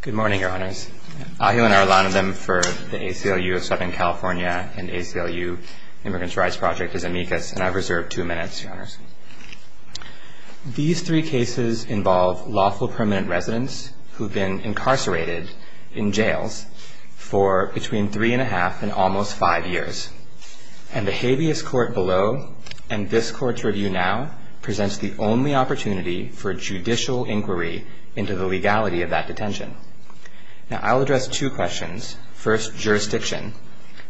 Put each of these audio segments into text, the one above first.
Good morning, Your Honors. Ahil and I are the line of them for the ACLU of Southern California and ACLU Immigrants Rights Project as amicus, and I've reserved two minutes, Your Honors. These three cases involve lawful permanent residents who've been incarcerated in jails for between three and a half and almost five years. And the habeas court below and this court to review now presents the only opportunity for judicial inquiry into the legality of that detention. Now I'll address two questions, first, jurisdiction,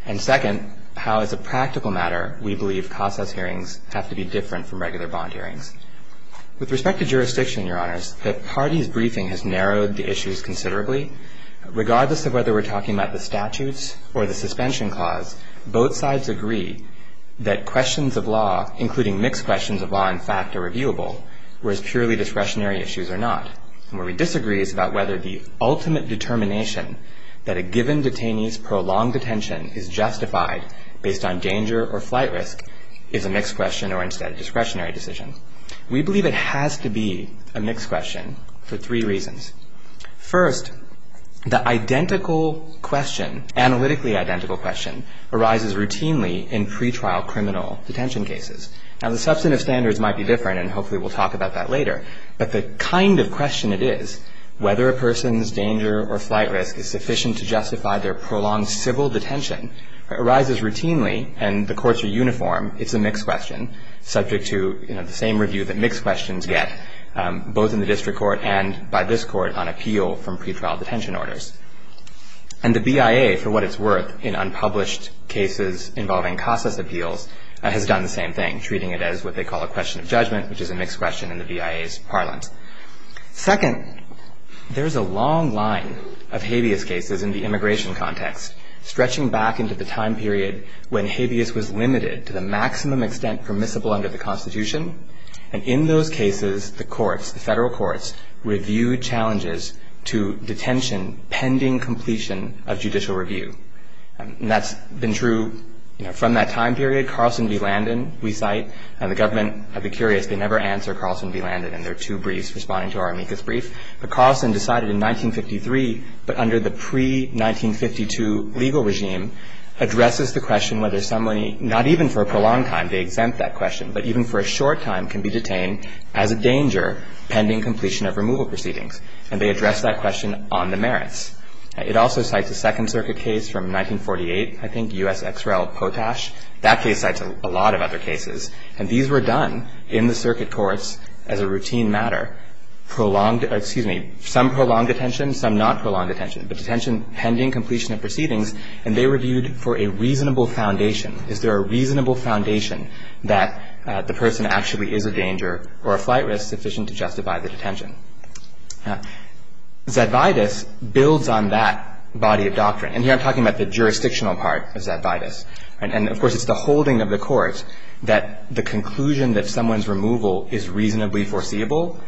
and second, how as a practical matter we believe CASA's hearings have to be different from regular bond hearings. With respect to jurisdiction, Your Honors, the party's briefing has narrowed the issues considerably. Regardless of whether we're talking about the statutes or the suspension clause, both sides agree that questions of law, including mixed questions of law in fact are reviewable, whereas purely discretionary issues are not. And where we disagree is about whether the ultimate determination that a given detainee's prolonged detention is justified based on danger or flight risk is a mixed question or instead a discretionary decision. We believe it has to be a mixed question for three reasons. First, the identical question, analytically identical question, arises routinely in pretrial criminal detention cases. Now the substantive standards might be different and hopefully we'll talk about that later, but the kind of question it is, whether a person's danger or flight risk is sufficient to justify their prolonged civil detention, arises routinely and the courts are uniform, it's a mixed question subject to the same review that mixed questions get both in the district court and by this court on appeal from pretrial detention orders. And the BIA, for what it's worth, in unpublished cases involving CASA's appeals has done the same thing, treating it as what they call a question of judgment, which is a mixed question in the BIA's parlance. Second, there's a long line of habeas cases in the immigration context, stretching back into the time period when habeas was limited to the maximum extent permissible under the Constitution and in those cases the courts, the federal courts, reviewed challenges to detention pending completion of judicial review. And that's been true from that time period. Carlson v. Landon, we cite, and the government of the curious, they never answer Carlson v. Landon in their two briefs responding to our amicus brief, but Carlson decided in 1953, but under the pre-1952 legal regime, addresses the question whether somebody, not even for a prolonged time, they exempt that question, but even for a short time can be detained as a danger pending completion of removal proceedings and they address that question on the merits. It also cites a Second Circuit case from 1948, I think, U.S. Ex Rel. Potash. That case cites a lot of other cases. And these were done in the circuit courts as a routine matter, prolonged, excuse me, some prolonged detention, some not prolonged detention, but detention pending completion of proceedings, and they reviewed for a reasonable foundation. Is there a reasonable foundation that the person actually is a danger or a flight risk sufficient to justify the detention? Zedvitus builds on that body of doctrine. And here I'm talking about the jurisdictional part of Zedvitus. And of course, it's the holding of the courts that the conclusion that someone's removal is reasonably foreseeable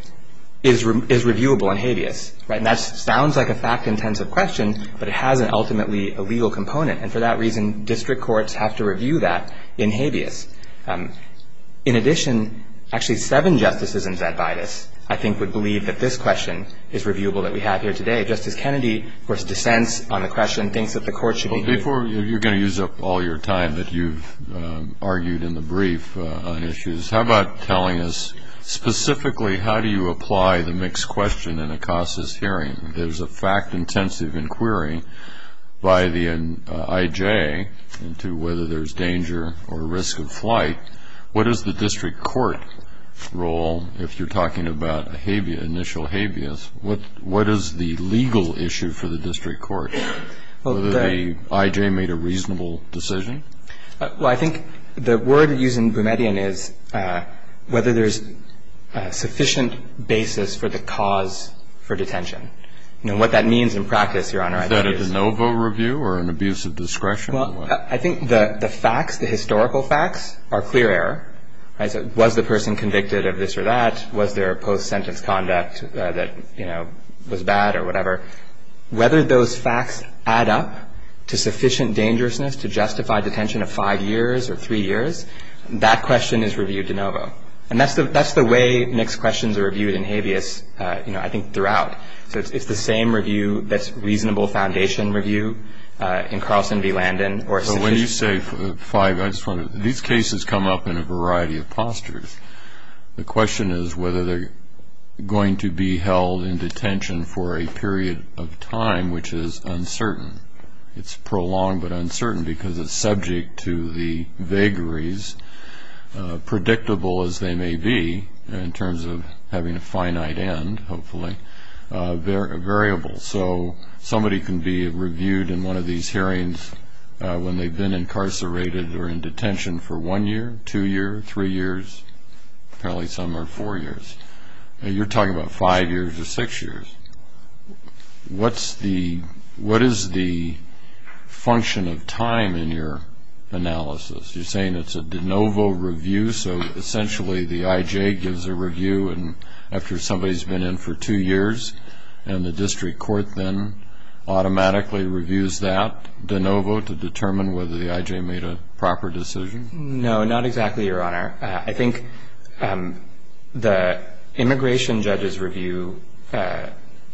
is reviewable in habeas. And that sounds like a fact-intensive question, but it has an ultimately legal component. And for that reason, district courts have to review that in habeas. In addition, actually seven justices in Zedvitus, I think, would believe that the this question is reviewable that we have here today. Justice Kennedy, of course, dissents on the question, thinks that the court should be Before you're going to use up all your time that you've argued in the brief on issues, how about telling us specifically how do you apply the mixed question in a CASA's hearing? There's a fact-intensive inquiry by the IJ into whether there's danger or risk of flight. What is the district court role if you're talking about initial habeas? What is the legal issue for the district court? Whether the IJ made a reasonable decision? Well, I think the word used in Boumediene is whether there's a sufficient basis for the cause for detention. You know, what that means in practice, Your Honor. Is that a de novo review or an abuse of discretion? I think the facts, the historical facts, are clear error. Was the person convicted of this or that? Was there a post-sentence conduct that was bad or whatever? Whether those facts add up to sufficient dangerousness to justify detention of five years or three years, that question is reviewed de novo. And that's the way mixed questions are reviewed in habeas, I think, throughout. So it's the same review that's reasonable foundation review in Carlson v. Landon. So when you say five, I just want to, these cases come up in a variety of postures. The question is whether they're going to be held in detention for a period of time which is uncertain. It's prolonged but uncertain because it's subject to the vagaries, predictable as they may be, in terms of having a finite end, hopefully, a variable. So somebody can be reviewed in one of these hearings when they've been incarcerated or in detention for one year, two years, three years, probably some are four years. You're talking about five years or six years. What is the function of time in your analysis? You're saying it's a de novo review, so essentially the IJ gives a review and after somebody's been in for two years and the district court then automatically reviews that de novo to determine whether the IJ made a proper decision? No, not exactly, Your Honor. I think the immigration judge's review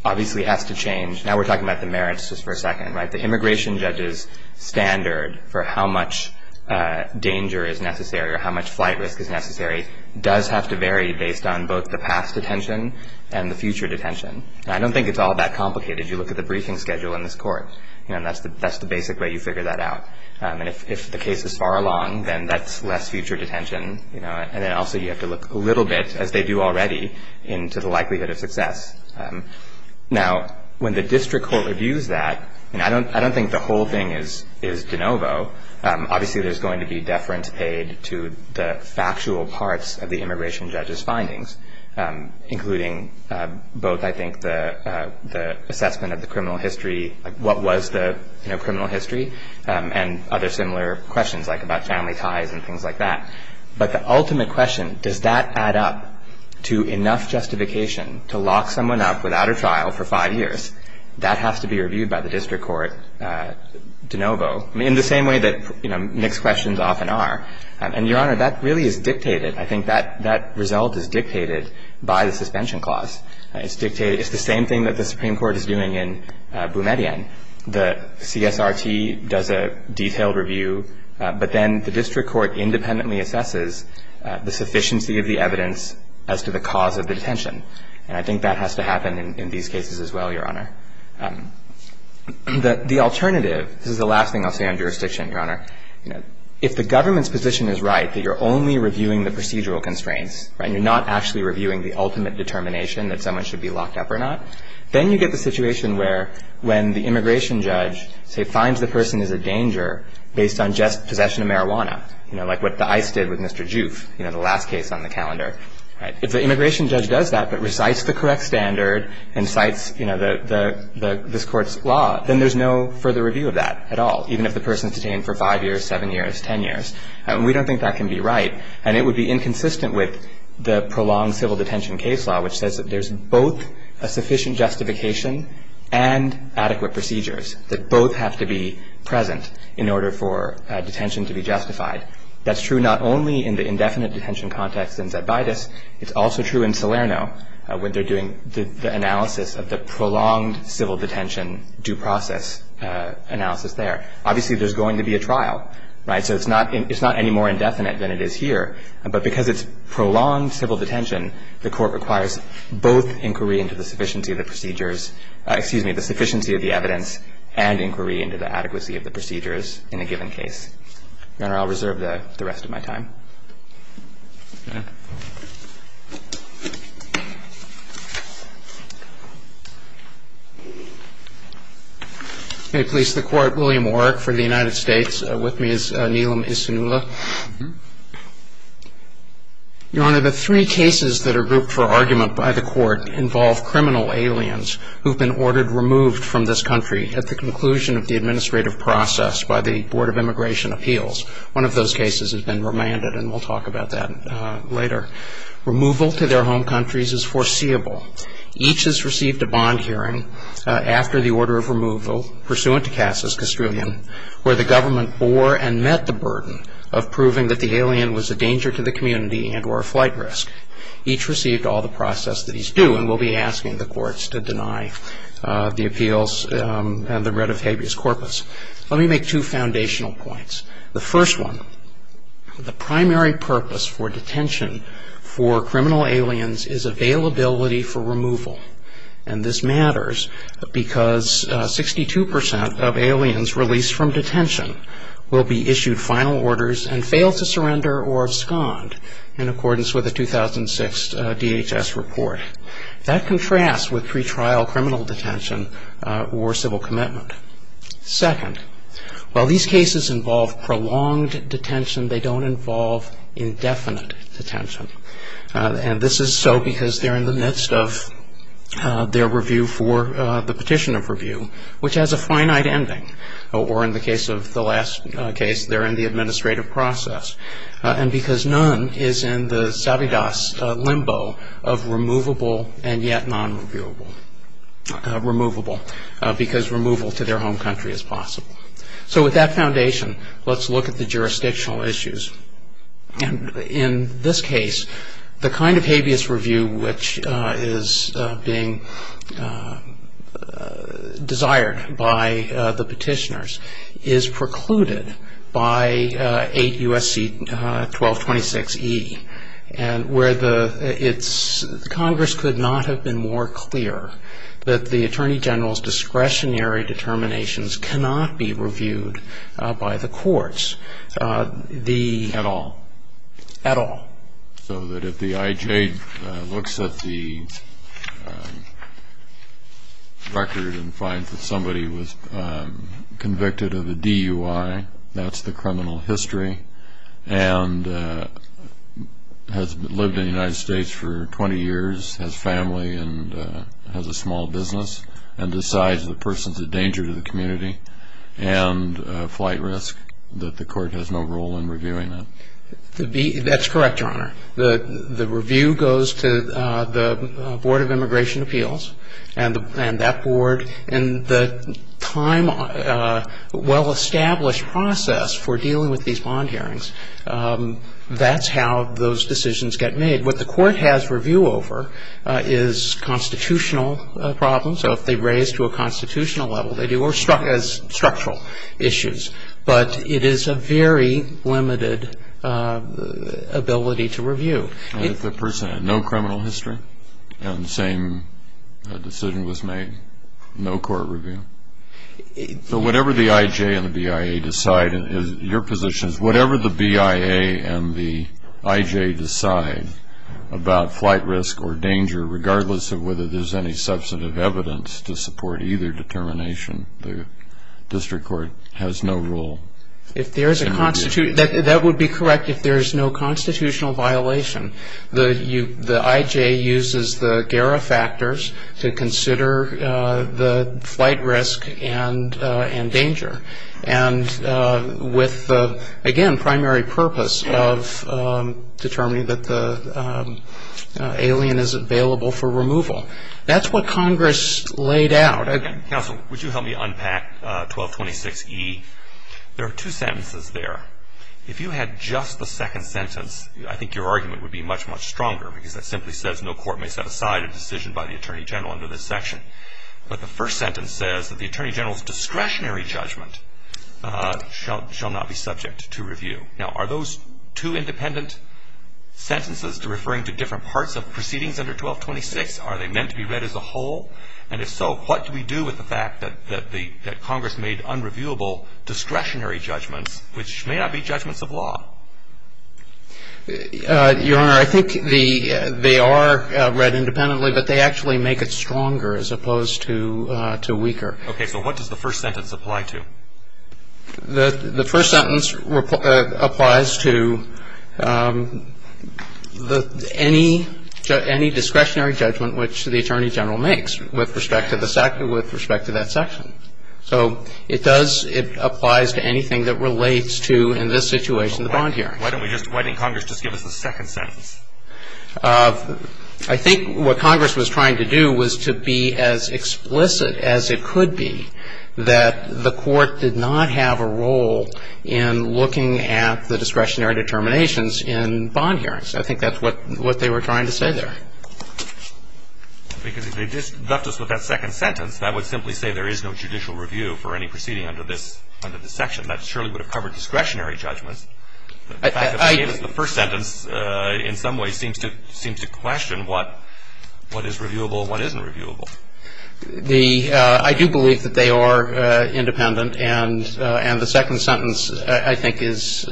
obviously has to change. Now we're talking about the merits just for a second, right? The immigration judge's standard for how much danger is necessary or how much flight risk is necessary does have to vary based on both the past detention and the future detention. I don't think it's all that complicated. You look at the briefing schedule in this court and that's the basic way you figure that out. And if the case is far along, then that's less future detention. And then also you have to look a little bit, as they do already, into the likelihood of success. Now, when the district court reviews that, and I don't think the whole thing is de novo. Obviously there's going to be deference paid to the factual parts of the immigration judge's findings, including both, I think, the assessment of the criminal history, what was the criminal history, and other similar questions like about family ties and things like that. But the ultimate question, does that add up to enough justification to lock someone up without a trial for five years? That has to be reviewed by the district court de novo, in the same way that mixed questions often are. And, Your Honor, that really is dictated. I think that result is dictated by the suspension clause. It's dictated, it's the same thing that the Supreme Court is doing in Boumediene. The CSRT does a detailed review, but then the district court independently assesses the sufficiency of the evidence as to the cause of the detention. And I think that has to happen in these cases as well, Your Honor. The alternative, this is the last thing I'll say on jurisdiction, Your Honor. If the government's position is right, that you're only reviewing the procedural constraints, and you're not actually reviewing the ultimate determination that someone should be locked up or not, then you get the situation where when the immigration judge, say, finds the person is a danger based on just possession of marijuana, you know, like what the ICE did with Mr. Joof, you know, the last case on the calendar, right? If the immigration judge does that but recites the correct standard and cites, you know, the, this court's law, then there's no further review of that at all, even if the person's detained for five years, seven years, ten years. And we don't think that can be right. And it would be inconsistent with the prolonged civil detention case law, which says that there's both a sufficient justification and adequate procedures that both have to be present in order for detention to be justified. That's true not only in the indefinite detention context in Zebaitis, it's also true in Salerno when they're doing the analysis of the prolonged civil detention due process analysis there. Obviously, there's going to be a trial, right? So it's not, it's not any more indefinite than it is here. But because it's prolonged civil detention, the court requires both inquiry into the sufficiency of the procedures, excuse me, the sufficiency of the evidence and inquiry into the adequacy of the procedures in a given case. Your Honor, I'll reserve the rest of my time. Okay. Okay, please. The court, William Warrick for the United States. With me is Neelam Isinula. Your Honor, the three cases that are grouped for argument by the court involve criminal aliens who've been ordered removed from this country at the conclusion of the administrative process by the Board of Immigration Appeals. One of those cases has been remanded, and we'll talk about that later. Removal to their home countries is foreseeable. Each has received a bond hearing after the order of removal pursuant to Cass's Castrillion, where the government bore and met the burden of proving that the alien was a danger to the community and were a flight risk. Each received all the process that he's due, and we'll be asking the courts to deny the appeals and the writ of habeas corpus. Let me make two foundational points. The first one, the primary purpose for detention for criminal aliens is availability for removal. And this matters because 62% of aliens released from detention will be issued final orders and fail to surrender or abscond in accordance with a 2006 DHS report. That contrasts with pretrial criminal detention or civil commitment. Second, while these cases involve prolonged detention, they don't involve indefinite detention. And this is so because they're in the midst of their review for the petition of review, which has a finite ending. Or in the case of the last case, they're in the administrative process. And because none is in the sabidus limbo of removable and yet non-reviewable. Removable, because removal to their home country is possible. So with that foundation, let's look at the jurisdictional issues. And in this case, the kind of habeas review which is being desired by the petitioners is precluded by 8 U.S.C. 1226E. And where the, it's, Congress could not have been more clear that the Attorney General's discretionary determinations cannot be reviewed by the courts. The... At all. At all. So that if the IJ looks at the record and finds that somebody was convicted of a DUI, that's the criminal history. And has lived in the United States for 20 years, has family and has a small business. And decides the person's a danger to the community and a flight risk, that the court has no role in reviewing them. That's correct, Your Honor. The review goes to the Board of Immigration Appeals and that board. And the time, well-established process for dealing with these bond hearings, that's how those decisions get made. What the court has review over is constitutional problems. So if they raise to a constitutional level, they do, or structural issues. But it is a very limited ability to review. And if the person had no criminal history and the same decision was made, no court review? So whatever the IJ and the BIA decide, your position is whatever the BIA and the IJ decide about flight risk or danger, regardless of whether there's any substantive evidence to support either determination, the district court has no role. If there is a constitutional... That would be correct if there is no constitutional violation. The IJ uses the GARA factors to consider the flight risk and danger. And with, again, primary purpose of determining that the alien is available for removal. That's what Congress laid out. Counsel, would you help me unpack 1226E? There are two sentences there. If you had just the second sentence, I think your argument would be much, much stronger. Because that simply says no court may set aside a decision by the Attorney General under this section. But the first sentence says that the Attorney General's discretionary judgment shall not be subject to review. Now are those two independent sentences referring to different parts of proceedings under 1226? Are they meant to be read as a whole? And if so, what do we do with the fact that Congress made unreviewable discretionary judgments, which may not be judgments of law? Your Honor, I think they are read independently, but they actually make it stronger as opposed to weaker. Okay, so what does the first sentence apply to? The first sentence applies to any discretionary judgment which the Attorney General makes with respect to that section. So it does, it applies to anything that relates to, in this situation, the bond hearing. Why don't we just, why didn't Congress just give us the second sentence? I think what Congress was trying to do was to be as explicit as it could be that the court did not have a role in looking at the discretionary determinations in bond hearings. I think that's what they were trying to say there. Because if they just left us with that second sentence, that would simply say there is no judicial review for any proceeding under this section. That surely would have covered discretionary judgments. The fact that they gave us the first sentence in some ways seems to question what is reviewable and what isn't reviewable. I do believe that they are independent, and the second sentence I think is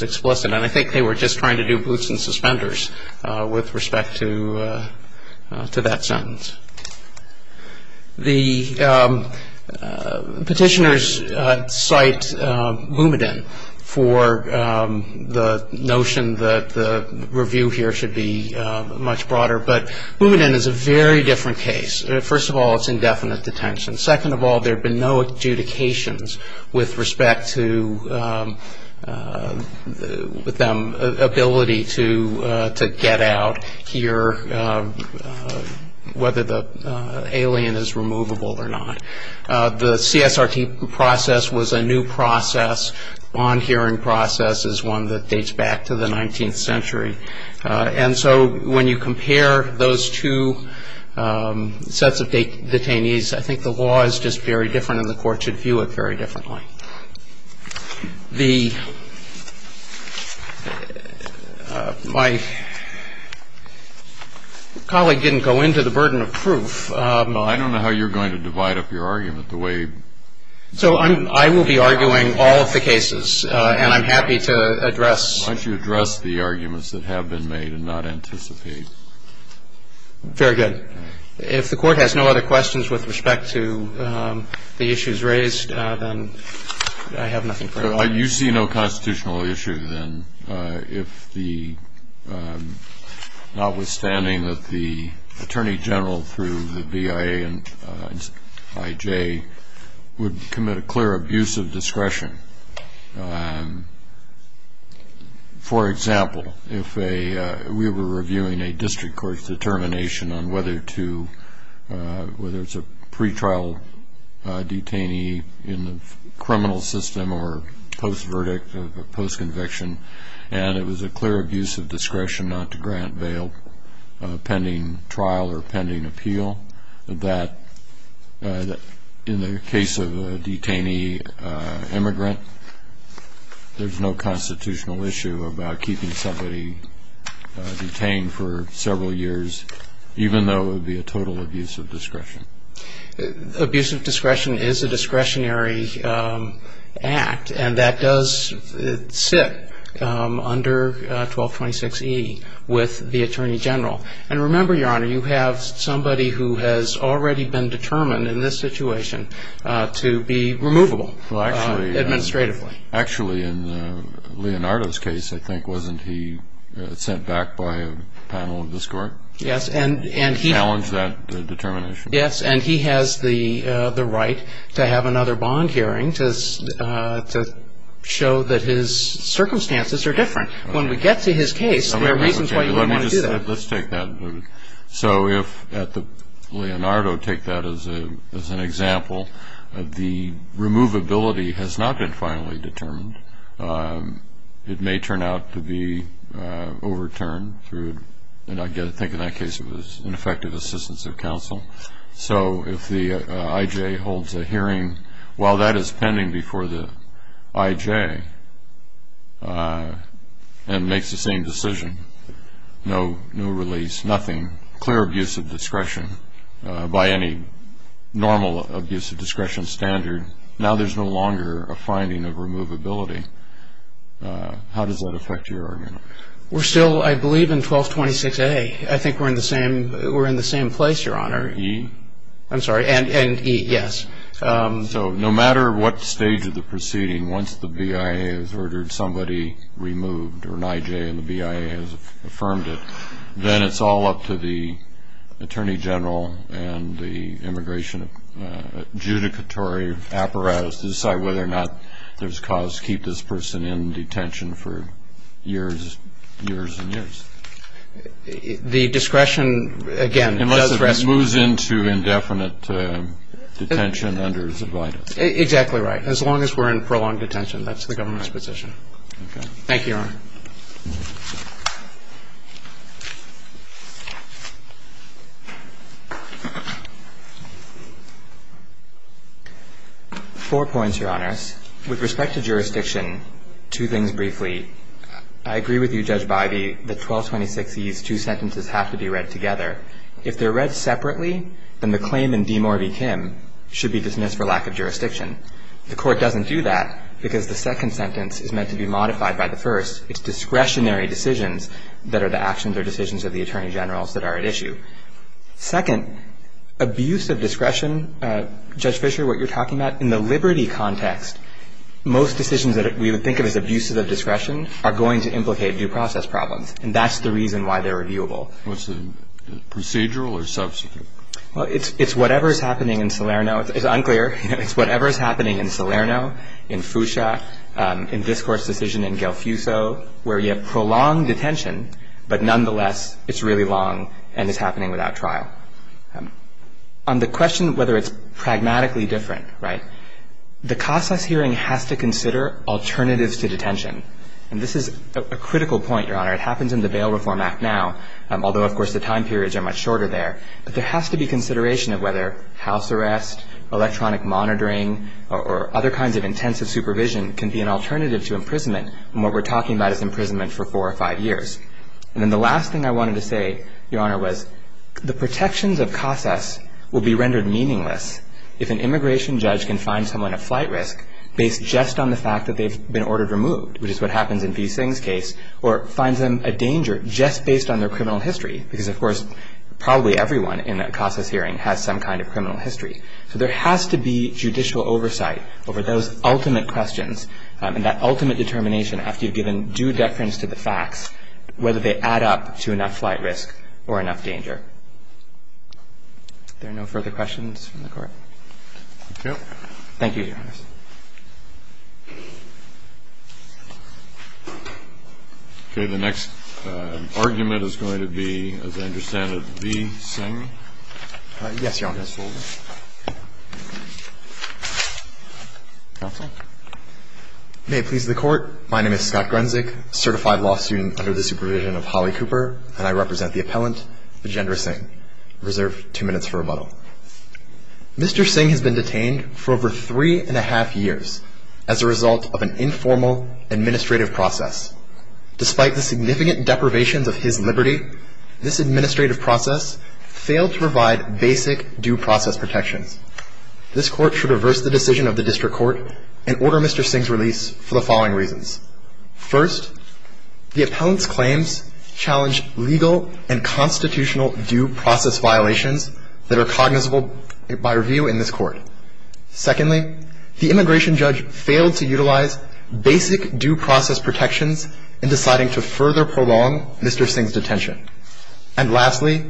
explicit. And I think they were just trying to do boots and suspenders with respect to that sentence. The petitioners cite Boumedin for the notion that the review here should be much broader. But Boumedin is a very different case. First of all, it's indefinite detention. Second of all, there have been no adjudications with respect to them ability to get out, hear whether the alien is removable or not. The CSRT process was a new process. Bond hearing process is one that dates back to the 19th century. And so when you compare those two sets of detainees, I think the law is just very different and the court should view it very differently. The my colleague didn't go into the burden of proof. Well, I don't know how you're going to divide up your argument the way. So I will be arguing all of the cases, and I'm happy to address. Why don't you address the arguments that have been made and not anticipate. Very good. If the court has no other questions with respect to the issues raised, then I have nothing further. You see no constitutional issue, then, notwithstanding that the attorney general through the BIA and IJ would commit a clear abuse of discretion. For example, if we were reviewing a district court's determination on whether to, whether it's a pretrial detainee in the criminal system or post-verdict or post-conviction, and it was a clear abuse of discretion not to grant bail pending trial or pending appeal, that in the case of a detainee immigrant, there's no constitutional issue about keeping somebody detained for several years even though it would be a total abuse of discretion. Abuse of discretion is a discretionary act, and that does sit under 1226E with the attorney general. And remember, Your Honor, you have somebody who has already been determined in this situation to be removable administratively. Actually, in Leonardo's case, I think, wasn't he sent back by a panel of this court? Yes. And he challenged that determination. Yes, and he has the right to have another bond hearing to show that his circumstances are different. When we get to his case, there are reasons why you wouldn't want to do that. Let's take that. So if at the Leonardo, take that as an example, the removability has not been finally determined. It may turn out to be overturned through, and I think in that case, it was ineffective assistance of counsel. So if the I.J. holds a hearing while that is pending before the I.J. and makes the same decision, no release, nothing, clear abuse of discretion, by any normal abuse of discretion standard, now there's no longer a finding of removability. How does that affect your argument? We're still, I believe, in 1226A. I think we're in the same place, Your Honor. E? I'm sorry, and E, yes. So no matter what stage of the proceeding, once the BIA has ordered somebody removed or an I.J. and the BIA has affirmed it, then it's all up to the Attorney General and the immigration adjudicatory apparatus to decide whether or not there's cause to keep this person in detention for years and years. The discretion, again, does respond. Unless it moves into indefinite detention under Zavita. Exactly right. As long as we're in prolonged detention, that's the government's position. Okay. Thank you, Your Honor. Four points, Your Honors. With respect to jurisdiction, two things briefly. I agree with you, Judge Bivey, that 1226E's two sentences have to be read together. If they're read separately, then the claim in DeMaury v. Kim should be dismissed for lack of jurisdiction. The Court doesn't do that because the second sentence is meant to be modified by the first. It's discretionary decisions that are the actions or decisions of the Attorney Generals that are at issue. Second, abuse of discretion. Judge Fischer, what you're talking about, in the liberty context, most decisions that we would think of as abuses of discretion are going to implicate due process problems. And that's the reason why they're reviewable. Was it procedural or subsequent? Well, it's whatever's happening in Salerno. It's unclear. It's whatever's happening in Salerno, in Fuchsia, in this Court's decision in Gelfuso, where you have prolonged detention, but nonetheless, it's really long and it's happening without trial. On the question of whether it's pragmatically different, right, the CASAS hearing has to consider alternatives to detention. And this is a critical point, Your Honor. It happens in the Bail Reform Act now, although, of course, the time periods are much shorter there. But there has to be consideration of whether house arrest, electronic monitoring, or other kinds of intensive supervision can be an alternative to imprisonment, and what we're talking about is imprisonment for four or five years. And then the last thing I wanted to say, Your Honor, was the protections of CASAS will be rendered meaningless if an immigration judge can find someone at flight risk based just on the fact that they've been ordered removed, which is what happens in V. Singh's case, or finds them a danger just based on their criminal history, because, of course, probably everyone in a CASAS hearing has some kind of criminal history. So there has to be judicial oversight over those ultimate questions, and that ultimate determination after you've given due deference to the facts, whether they add up to enough flight risk or enough danger. Are there no further questions from the Court? Okay. Thank you, Your Honor. Okay, the next argument is going to be, as I understand it, V. Singh? Yes, Your Honor. Counsel? May it please the Court. My name is Scott Grunzik, a certified law student under the supervision of Holly Cooper, and I represent the appellant, Vijendra Singh. Reserve two minutes for rebuttal. Mr. Singh has been detained for over three and a half years as a result of an informal administrative process. Despite the significant deprivations of his liberty, this administrative process failed to provide basic due process protections. This Court should reverse the decision of the District Court and order Mr. Singh's release for the following reasons. First, the appellant's claims challenge legal and constitutional due process violations that are cognizable by review in this Court. Secondly, the immigration judge failed to utilize basic due process protections in deciding to further prolong Mr. Singh's detention. And lastly,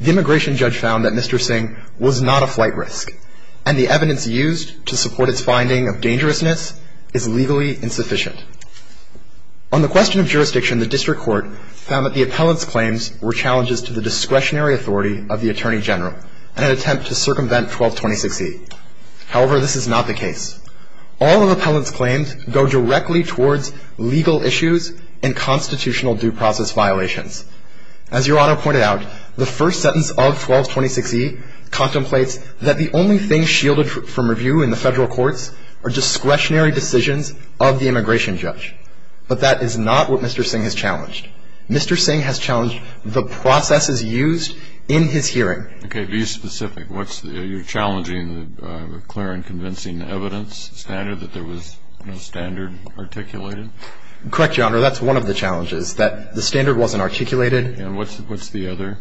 the immigration judge found that Mr. Singh was not a flight risk and the evidence used to support its finding of dangerousness is legally insufficient. On the question of jurisdiction, the District Court found that the appellant's claims were challenges to the discretionary authority of the Attorney General in an attempt to circumvent 1226E. However, this is not the case. All of the appellant's claims go directly towards legal issues and constitutional due process violations. As Your Honor pointed out, the first sentence of 1226E contemplates that the only things shielded from review in the federal courts are discretionary decisions of the immigration judge. But that is not what Mr. Singh has challenged. Mr. Singh has challenged the processes used in his hearing. Okay, be specific. What's the – you're challenging the clear and convincing evidence standard that there was no standard articulated? Correct, Your Honor. That's one of the challenges, that the standard wasn't articulated. And what's the other?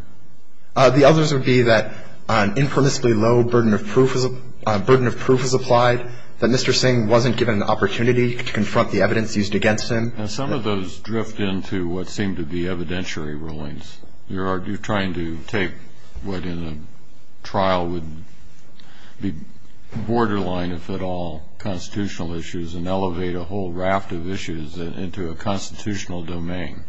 The others would be that an impermissibly low burden of proof was applied, that Mr. Singh wasn't given an opportunity to confront the evidence used against him. And some of those drift into what seem to be evidentiary rulings. You're trying to take what in a trial would be borderline, if at all, constitutional issues and elevate a whole raft of issues into a constitutional domain.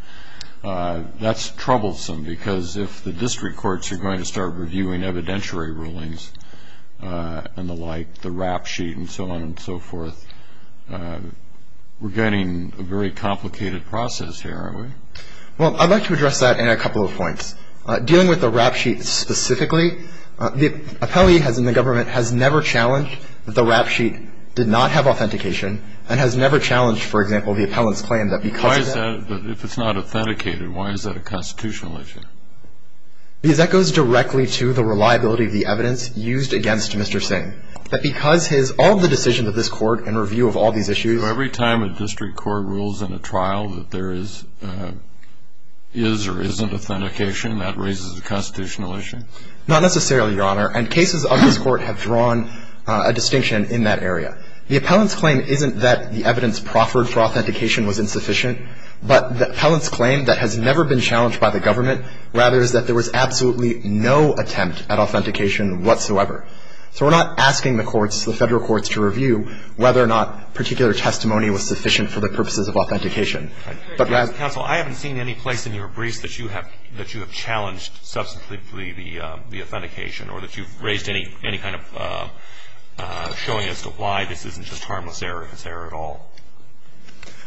That's troublesome because if the district courts are going to start reviewing evidentiary rulings and the like, the rap sheet and so on and so forth, we're getting a very complicated process here, aren't we? Well, I'd like to address that in a couple of points. Dealing with the rap sheet specifically, the appellee has in the government has never challenged that the rap sheet did not have authentication and has never challenged, for example, the appellant's claim that because of that – Why is that – if it's not authenticated, why is that a constitutional issue? Because that goes directly to the reliability of the evidence used against Mr. Singh. That because his – all of the decisions of this court in review of all these issues – So every time a district court rules in a trial that there is or isn't authentication, that raises a constitutional issue? Not necessarily, Your Honor. And cases of this court have drawn a distinction in that area. The appellant's claim isn't that the evidence proffered for authentication was insufficient, but the appellant's claim that has never been challenged by the government, rather is that there was absolutely no attempt at authentication whatsoever. So we're not asking the courts, the Federal courts, to review whether or not particular testimony was sufficient for the purposes of authentication. Counsel, I haven't seen any place in your briefs that you have – that you have challenged substantively the authentication or that you've raised any kind of showing as to why this isn't just harmless error at all.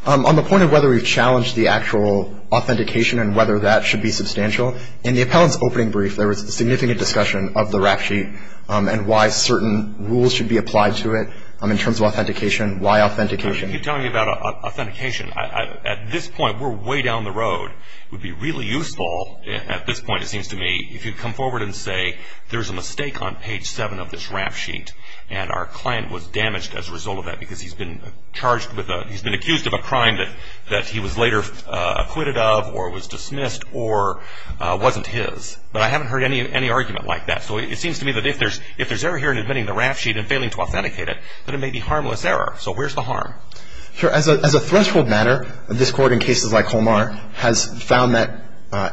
On the point of whether we've challenged the actual authentication and whether that should be substantial, in the appellant's opening brief, there was significant discussion of the rap sheet and why certain rules should be applied to it in terms of authentication. Why authentication? You keep telling me about authentication. At this point, we're way down the road. It would be really useful at this point, it seems to me, if you come forward and say there's a mistake on page 7 of this rap sheet and our client was damaged as a result of that because he's been charged with a – he's been accused of a crime that he was later acquitted of or was dismissed or wasn't his. But I haven't heard any argument like that. So it seems to me that if there's error here in admitting the rap sheet and failing to authenticate it, that it may be harmless error. So where's the harm? Sure. As a threshold matter, this Court, in cases like Homar, has found that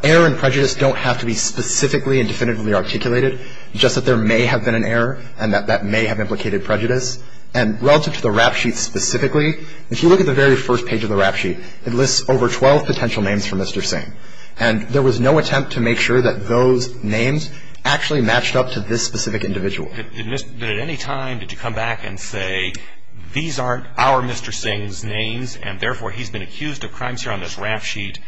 error and prejudice don't have to be specifically and definitively articulated, just that there may have been an error and that that may have implicated prejudice. And relative to the rap sheet specifically, if you look at the very first page of the rap sheet, it lists over 12 potential names for Mr. Singh. And there was no attempt to make sure that those names actually matched up to this specific individual. So at any time did you come back and say, these aren't our Mr. Singh's names and, therefore, he's been accused of crimes here on this rap sheet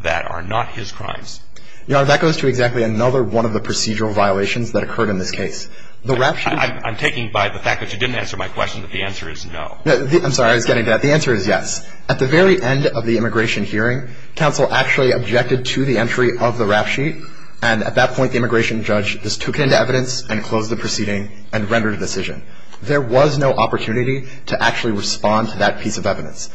that are not his crimes? That goes to exactly another one of the procedural violations that occurred in this case. I'm taking by the fact that you didn't answer my question that the answer is no. I'm sorry. I was getting to that. The answer is yes. At the very end of the immigration hearing, counsel actually objected to the entry of the rap sheet, and at that point the immigration judge just took it into evidence and closed the proceeding and rendered a decision. There was no opportunity to actually respond to that piece of evidence.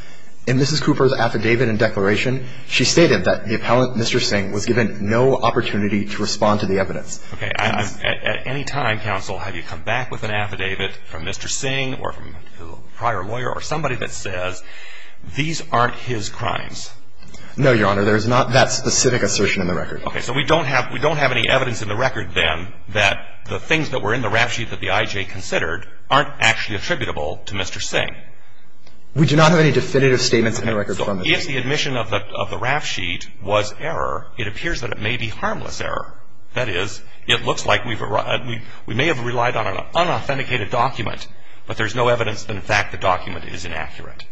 In Mrs. Cooper's affidavit and declaration, she stated that the appellant, Mr. Singh, was given no opportunity to respond to the evidence. Okay. At any time, counsel, have you come back with an affidavit from Mr. Singh or from a prior lawyer or somebody that says, these aren't his crimes? There is not that specific assertion in the record. Okay. So we don't have any evidence in the record, then, that the things that were in the rap sheet that the I.J. considered aren't actually attributable to Mr. Singh. We do not have any definitive statements in the record. So if the admission of the rap sheet was error, it appears that it may be harmless error. That is, it looks like we may have relied on an unauthenticated document, but there's no evidence that, in fact, the document is inaccurate.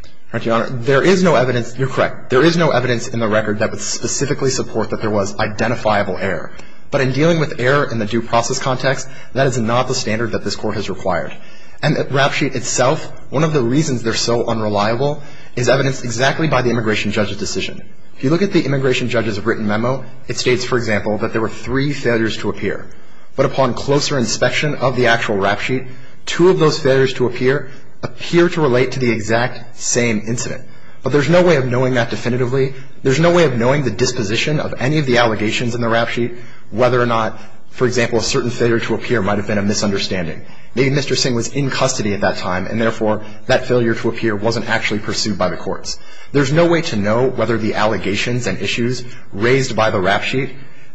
Your Honor, there is no evidence. You're correct. There is no evidence in the record that would specifically support that there was identifiable error. But in dealing with error in the due process context, that is not the standard that this Court has required. And the rap sheet itself, one of the reasons they're so unreliable, is evidenced exactly by the immigration judge's decision. If you look at the immigration judge's written memo, it states, for example, that there were three failures to appear. But upon closer inspection of the actual rap sheet, two of those failures to appear appear to relate to the exact same incident. But there's no way of knowing that definitively. There's no way of knowing the disposition of any of the allegations in the rap sheet, whether or not, for example, a certain failure to appear might have been a misunderstanding. Maybe Mr. Singh was in custody at that time, and therefore that failure to appear wasn't actually pursued by the courts. There's no way to know whether the allegations and issues raised by the rap sheet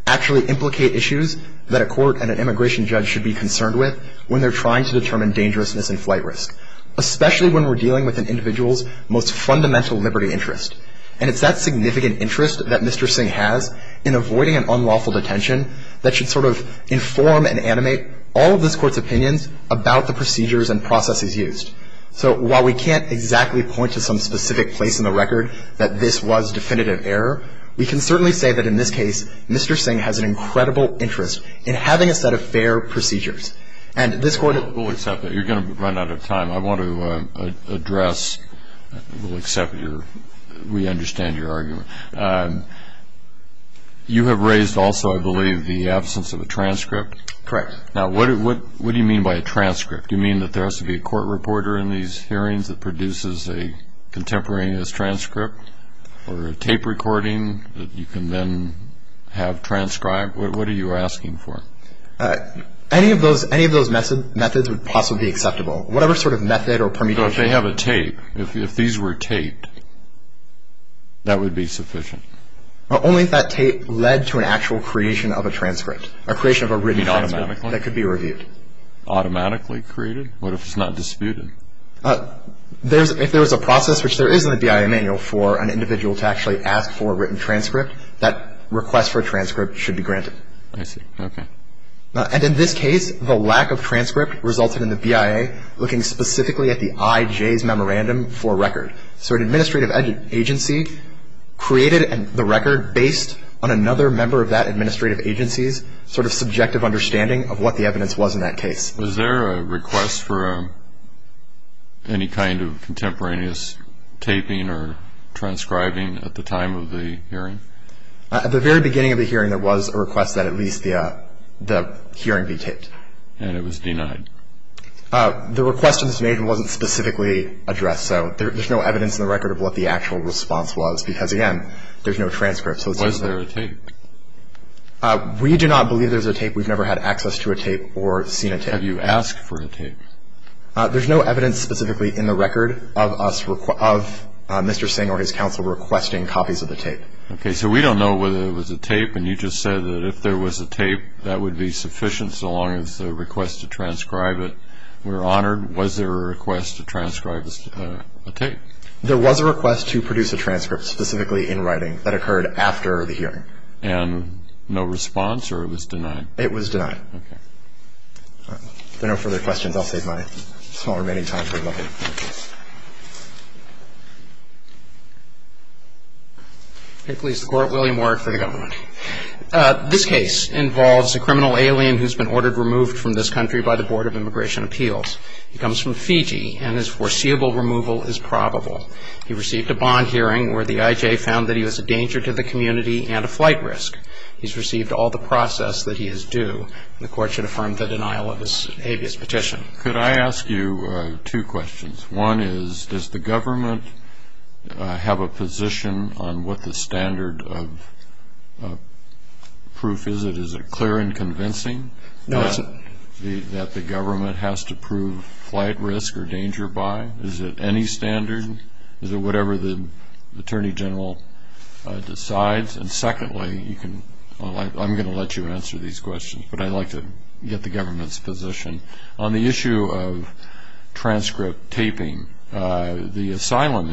actually implicate issues that a court and an immigration judge should be concerned with when they're trying to determine dangerousness and flight risk, especially when we're dealing with an individual's most fundamental liberty interest. And it's that significant interest that Mr. Singh has in avoiding an unlawful detention that should sort of inform and animate all of this Court's opinions about the procedures and processes used. So while we can't exactly point to some specific place in the record that this was definitive error, we can certainly say that in this case, Mr. Singh has an incredible interest in having a set of fair procedures. And this Court — I want to address — we'll accept your — we understand your argument. You have raised also, I believe, the absence of a transcript. Correct. Now, what do you mean by a transcript? Do you mean that there has to be a court reporter in these hearings that produces a contemporaneous transcript or a tape recording that you can then have transcribed? What are you asking for? Any of those methods would possibly be acceptable. Whatever sort of method or permutation — Well, if they have a tape, if these were taped, that would be sufficient. Only if that tape led to an actual creation of a transcript, a creation of a written transcript — You mean automatically? — that could be reviewed. Automatically created? What if it's not disputed? If there was a process, which there is in the BIA manual, for an individual to actually ask for a written transcript, that request for a transcript should be granted. I see. Okay. And in this case, the lack of transcript resulted in the BIA looking specifically at the IJ's memorandum for record. So an administrative agency created the record based on another member of that administrative agency's sort of subjective understanding of what the evidence was in that case. Was there a request for any kind of contemporaneous taping or transcribing at the time of the hearing? At the very beginning of the hearing, there was a request that at least the hearing be taped. And it was denied. The request that was made wasn't specifically addressed, so there's no evidence in the record of what the actual response was, because, again, there's no transcript. Was there a tape? We do not believe there's a tape. We've never had access to a tape or seen a tape. Have you asked for a tape? There's no evidence specifically in the record of Mr. Singh or his counsel requesting copies of the tape. Okay, so we don't know whether there was a tape, and you just said that if there was a tape, that would be sufficient so long as there was a request to transcribe it. We're honored. Was there a request to transcribe a tape? There was a request to produce a transcript specifically in writing that occurred after the hearing. And no response, or it was denied? It was denied. Okay. If there are no further questions, I'll save my small remaining time for a moment. Please, the Court. William Ward for the government. This case involves a criminal alien who's been ordered removed from this country by the Board of Immigration Appeals. He comes from Fiji, and his foreseeable removal is probable. He received a bond hearing where the IJ found that he was a danger to the community and a flight risk. He's received all the process that he is due, and the Court should affirm the denial of his habeas petition. Could I ask you two questions? One is, does the government have a position on what the standard of proof is? Is it clear and convincing that the government has to prove flight risk or danger by? Is it any standard? Is it whatever the Attorney General decides? And secondly, I'm going to let you answer these questions, but I'd like to get the government's position. On the issue of transcript taping, the asylum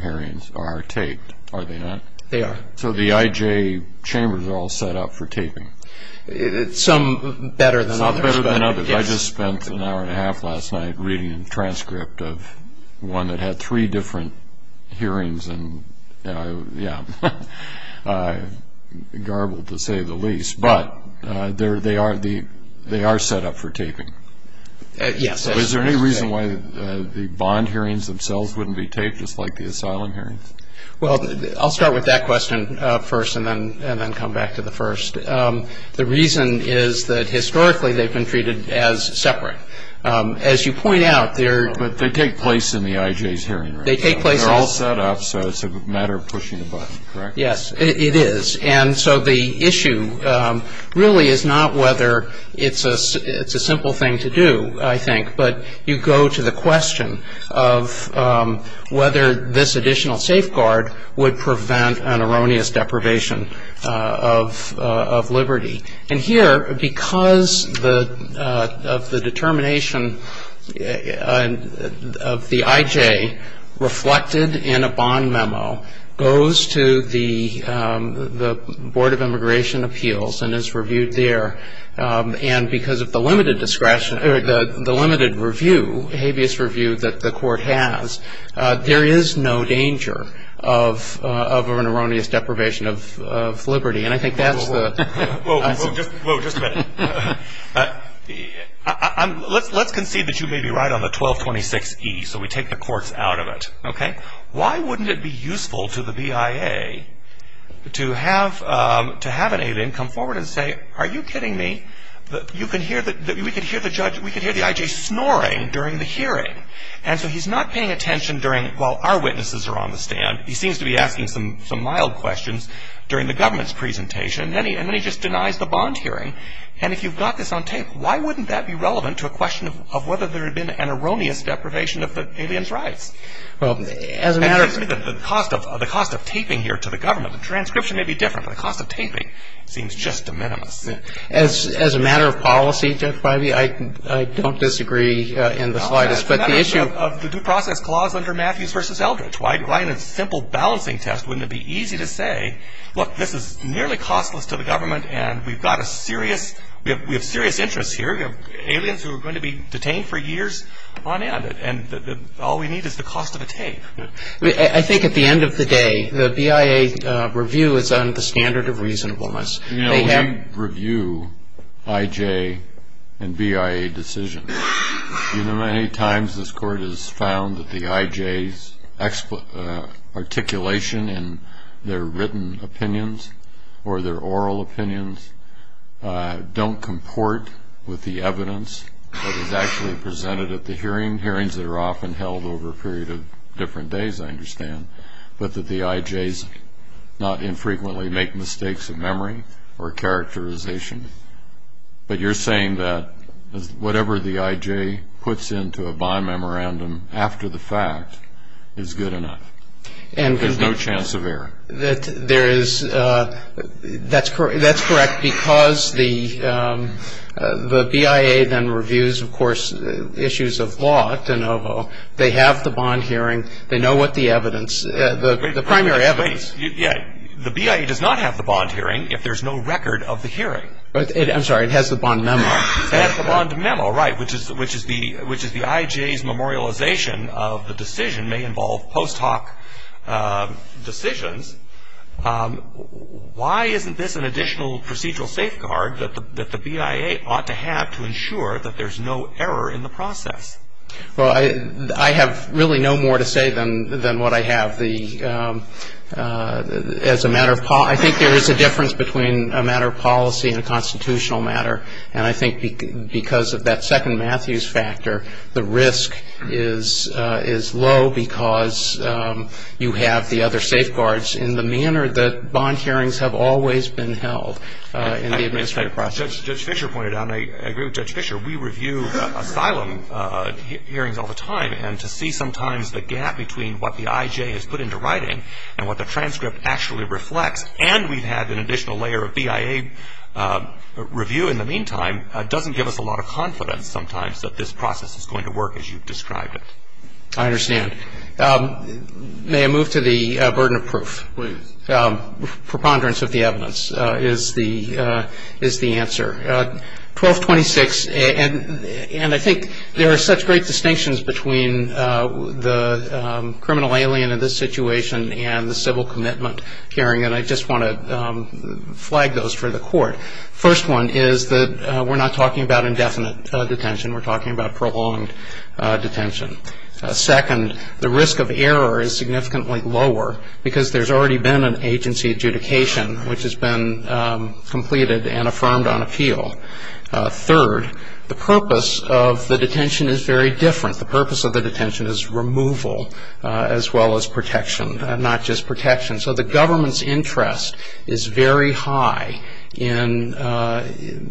hearings are taped, are they not? They are. So the IJ chambers are all set up for taping. Some better than others. Some better than others. I just spent an hour and a half last night reading a transcript of one that had three different hearings and, yeah, garbled to say the least. But they are set up for taping. Yes. Is there any reason why the bond hearings themselves wouldn't be taped, just like the asylum hearings? Well, I'll start with that question first and then come back to the first. The reason is that historically they've been treated as separate. As you point out, they're- But they take place in the IJ's hearing room. They take place- They're all set up, so it's a matter of pushing a button, correct? Yes, it is. And so the issue really is not whether it's a simple thing to do, I think, but you go to the question of whether this additional safeguard would prevent an erroneous deprivation of liberty. And here, because of the determination of the IJ reflected in a bond memo, goes to the Board of Immigration Appeals and is reviewed there. And because of the limited discretion, or the limited review, habeas review that the court has, there is no danger of an erroneous deprivation of liberty. And I think that's the- Whoa, whoa, whoa, just a minute. Let's concede that you may be right on the 1226E, so we take the courts out of it, okay? Why wouldn't it be useful to the BIA to have an alien come forward and say, are you kidding me? We could hear the IJ snoring during the hearing. And so he's not paying attention while our witnesses are on the stand. And he seems to be asking some mild questions during the government's presentation, and then he just denies the bond hearing. And if you've got this on tape, why wouldn't that be relevant to a question of whether there had been an erroneous deprivation of the alien's rights? Well, as a matter of- And the cost of taping here to the government, the transcription may be different, but the cost of taping seems just de minimis. As a matter of policy, Judge Biby, I don't disagree in the slightest, but the issue- Of the due process clause under Matthews v. Eldridge. Why in a simple balancing test wouldn't it be easy to say, look, this is nearly costless to the government, and we've got a serious- We have serious interests here. We have aliens who are going to be detained for years on end, and all we need is the cost of a tape. I think at the end of the day, the BIA review is under the standard of reasonableness. You know, when you review IJ and BIA decisions, you know many times this Court has found that the IJ's articulation in their written opinions or their oral opinions don't comport with the evidence that is actually presented at the hearing, hearings that are often held over a period of different days, I understand, but that the IJ's not infrequently make mistakes of memory or characterization. But you're saying that whatever the IJ puts into a bond memorandum after the fact is good enough. There's no chance of error. There is. That's correct because the BIA then reviews, of course, issues of law at De Novo. They have the bond hearing. They know what the evidence, the primary evidence- The BIA does not have the bond hearing if there's no record of the hearing. I'm sorry, it has the bond memo. It has the bond memo, right, which is the IJ's memorialization of the decision may involve post hoc decisions. Why isn't this an additional procedural safeguard that the BIA ought to have to ensure that there's no error in the process? Well, I have really no more to say than what I have. As a matter of policy, I think there is a difference between a matter of policy and a constitutional matter, and I think because of that second Matthews factor, the risk is low because you have the other safeguards in the manner that bond hearings have always been held in the administrative process. As Judge Fischer pointed out, and I agree with Judge Fischer, we review asylum hearings all the time, and to see sometimes the gap between what the IJ has put into writing and what the transcript actually reflects, and we've had an additional layer of BIA review in the meantime, doesn't give us a lot of confidence sometimes that this process is going to work as you've described it. I understand. May I move to the burden of proof? Please. Preponderance of the evidence is the answer. 1226, and I think there are such great distinctions between the criminal alien in this situation and the civil commitment hearing, and I just want to flag those for the Court. First one is that we're not talking about indefinite detention. We're talking about prolonged detention. Second, the risk of error is significantly lower because there's already been an agency adjudication, which has been completed and affirmed on appeal. Third, the purpose of the detention is very different. The purpose of the detention is removal as well as protection, not just protection. So the government's interest is very high in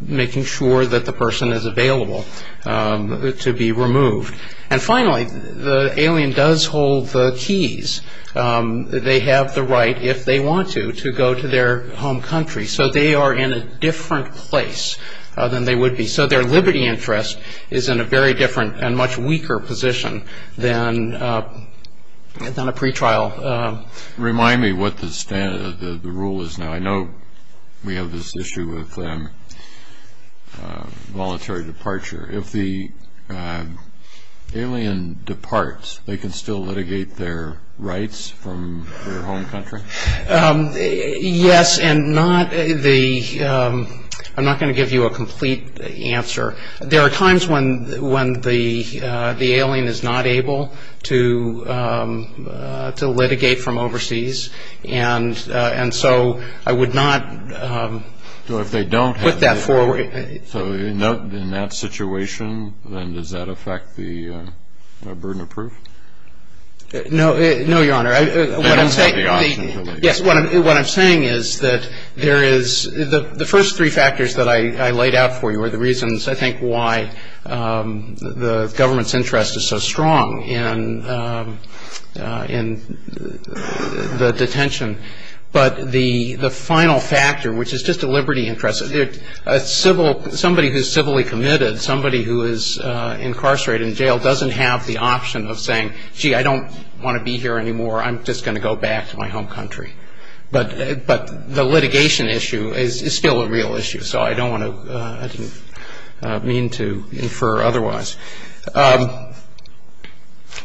making sure that the person is available to be removed. And finally, the alien does hold the keys. They have the right, if they want to, to go to their home country. So they are in a different place than they would be. So their liberty interest is in a very different and much weaker position than a pretrial. Remind me what the rule is now. I know we have this issue with voluntary departure. If the alien departs, they can still litigate their rights from their home country? Yes, and I'm not going to give you a complete answer. There are times when the alien is not able to litigate from overseas, and so I would not put that forward. So in that situation, then, does that affect the burden of proof? No, Your Honor. They don't have the option to litigate. Yes, what I'm saying is that there is the first three factors that I laid out for you are the reasons, I think, why the government's interest is so strong in the detention. But the final factor, which is just a liberty interest, somebody who is civilly committed, somebody who is incarcerated in jail doesn't have the option of saying, gee, I don't want to be here anymore, I'm just going to go back to my home country. But the litigation issue is still a real issue, so I didn't mean to infer otherwise.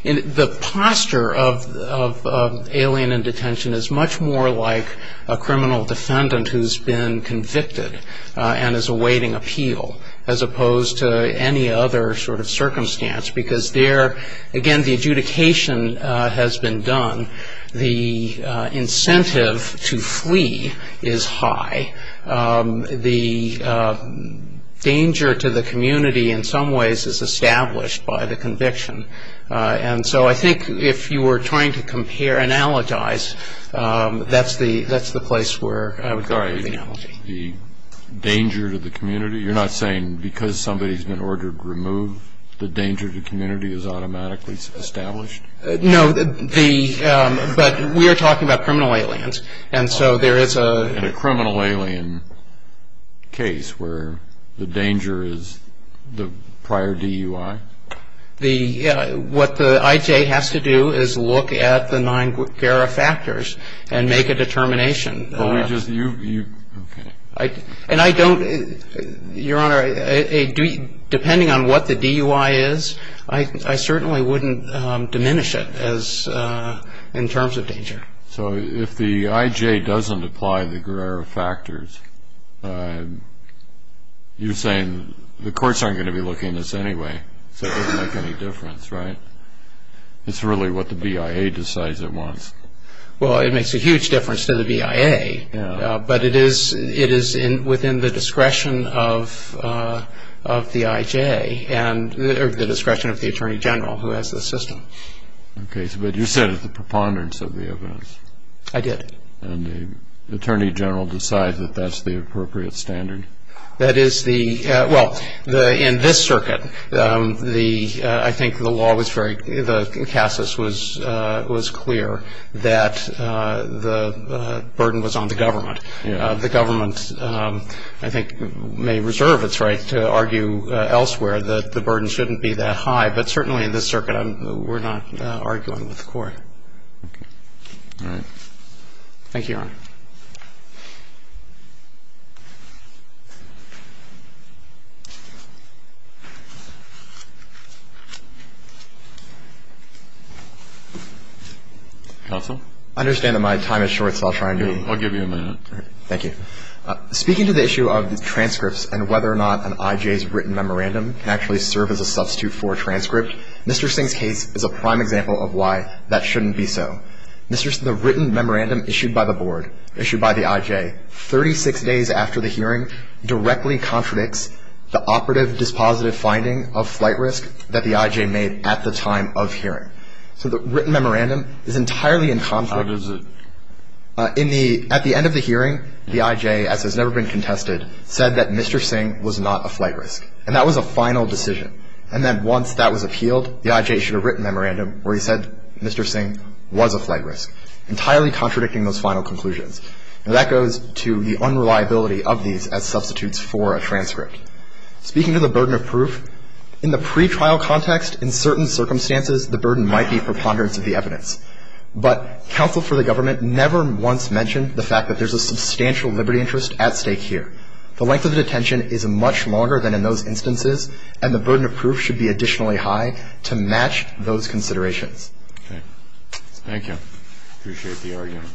The posture of alien in detention is much more like a criminal defendant who has been convicted and is awaiting appeal as opposed to any other sort of circumstance, because there, again, the adjudication has been done. The incentive to flee is high. The danger to the community, in some ways, is established by the conviction. And so I think if you were trying to compare, analogize, that's the place where I would go with the analogy. The danger to the community? You're not saying because somebody has been ordered to remove, the danger to the community is automatically established? No, but we are talking about criminal aliens. And a criminal alien case where the danger is the prior DUI? What the IJ has to do is look at the nine GARA factors and make a determination. But we just, you, okay. And I don't, Your Honor, depending on what the DUI is, I certainly wouldn't diminish it in terms of danger. So if the IJ doesn't apply the GARA factors, you're saying the courts aren't going to be looking at this anyway, so it doesn't make any difference, right? It's really what the BIA decides at once. Well, it makes a huge difference to the BIA, but it is within the discretion of the IJ, or the discretion of the Attorney General who has the system. Okay, but you said it's the preponderance of the evidence. I did. And the Attorney General decides that that's the appropriate standard? That is the, well, in this circuit, the, I think the law was very, the CASAS was clear that the burden was on the government. The government, I think, may reserve its right to argue elsewhere that the burden shouldn't be that high. But certainly in this circuit, we're not arguing with the court. All right. Thank you, Your Honor. Counsel? I understand that my time is short, so I'll try and do it. I'll give you a minute. Thank you. Speaking to the issue of transcripts and whether or not an IJ's written memorandum can actually serve as a substitute for a transcript, Mr. Singh's case is a prime example of why that shouldn't be so. The written memorandum issued by the board, issued by the IJ, 36 days after the hearing, directly contradicts the operative dispositive finding of flight risk that the IJ made at the time of hearing. So the written memorandum is entirely in conflict. How does it? In the, at the end of the hearing, the IJ, as has never been contested, said that Mr. Singh was not a flight risk. And that was a final decision. And then once that was appealed, the IJ should have written a memorandum where he said Mr. Singh was a flight risk, entirely contradicting those final conclusions. Now, that goes to the unreliability of these as substitutes for a transcript. Speaking to the burden of proof, in the pretrial context, in certain circumstances, the burden might be preponderance of the evidence. But counsel for the government never once mentioned the fact that there's a substantial liberty interest at stake here. The length of the detention is much longer than in those instances, and the burden of proof should be additionally high to match those considerations. Okay. Thank you. Appreciate the argument.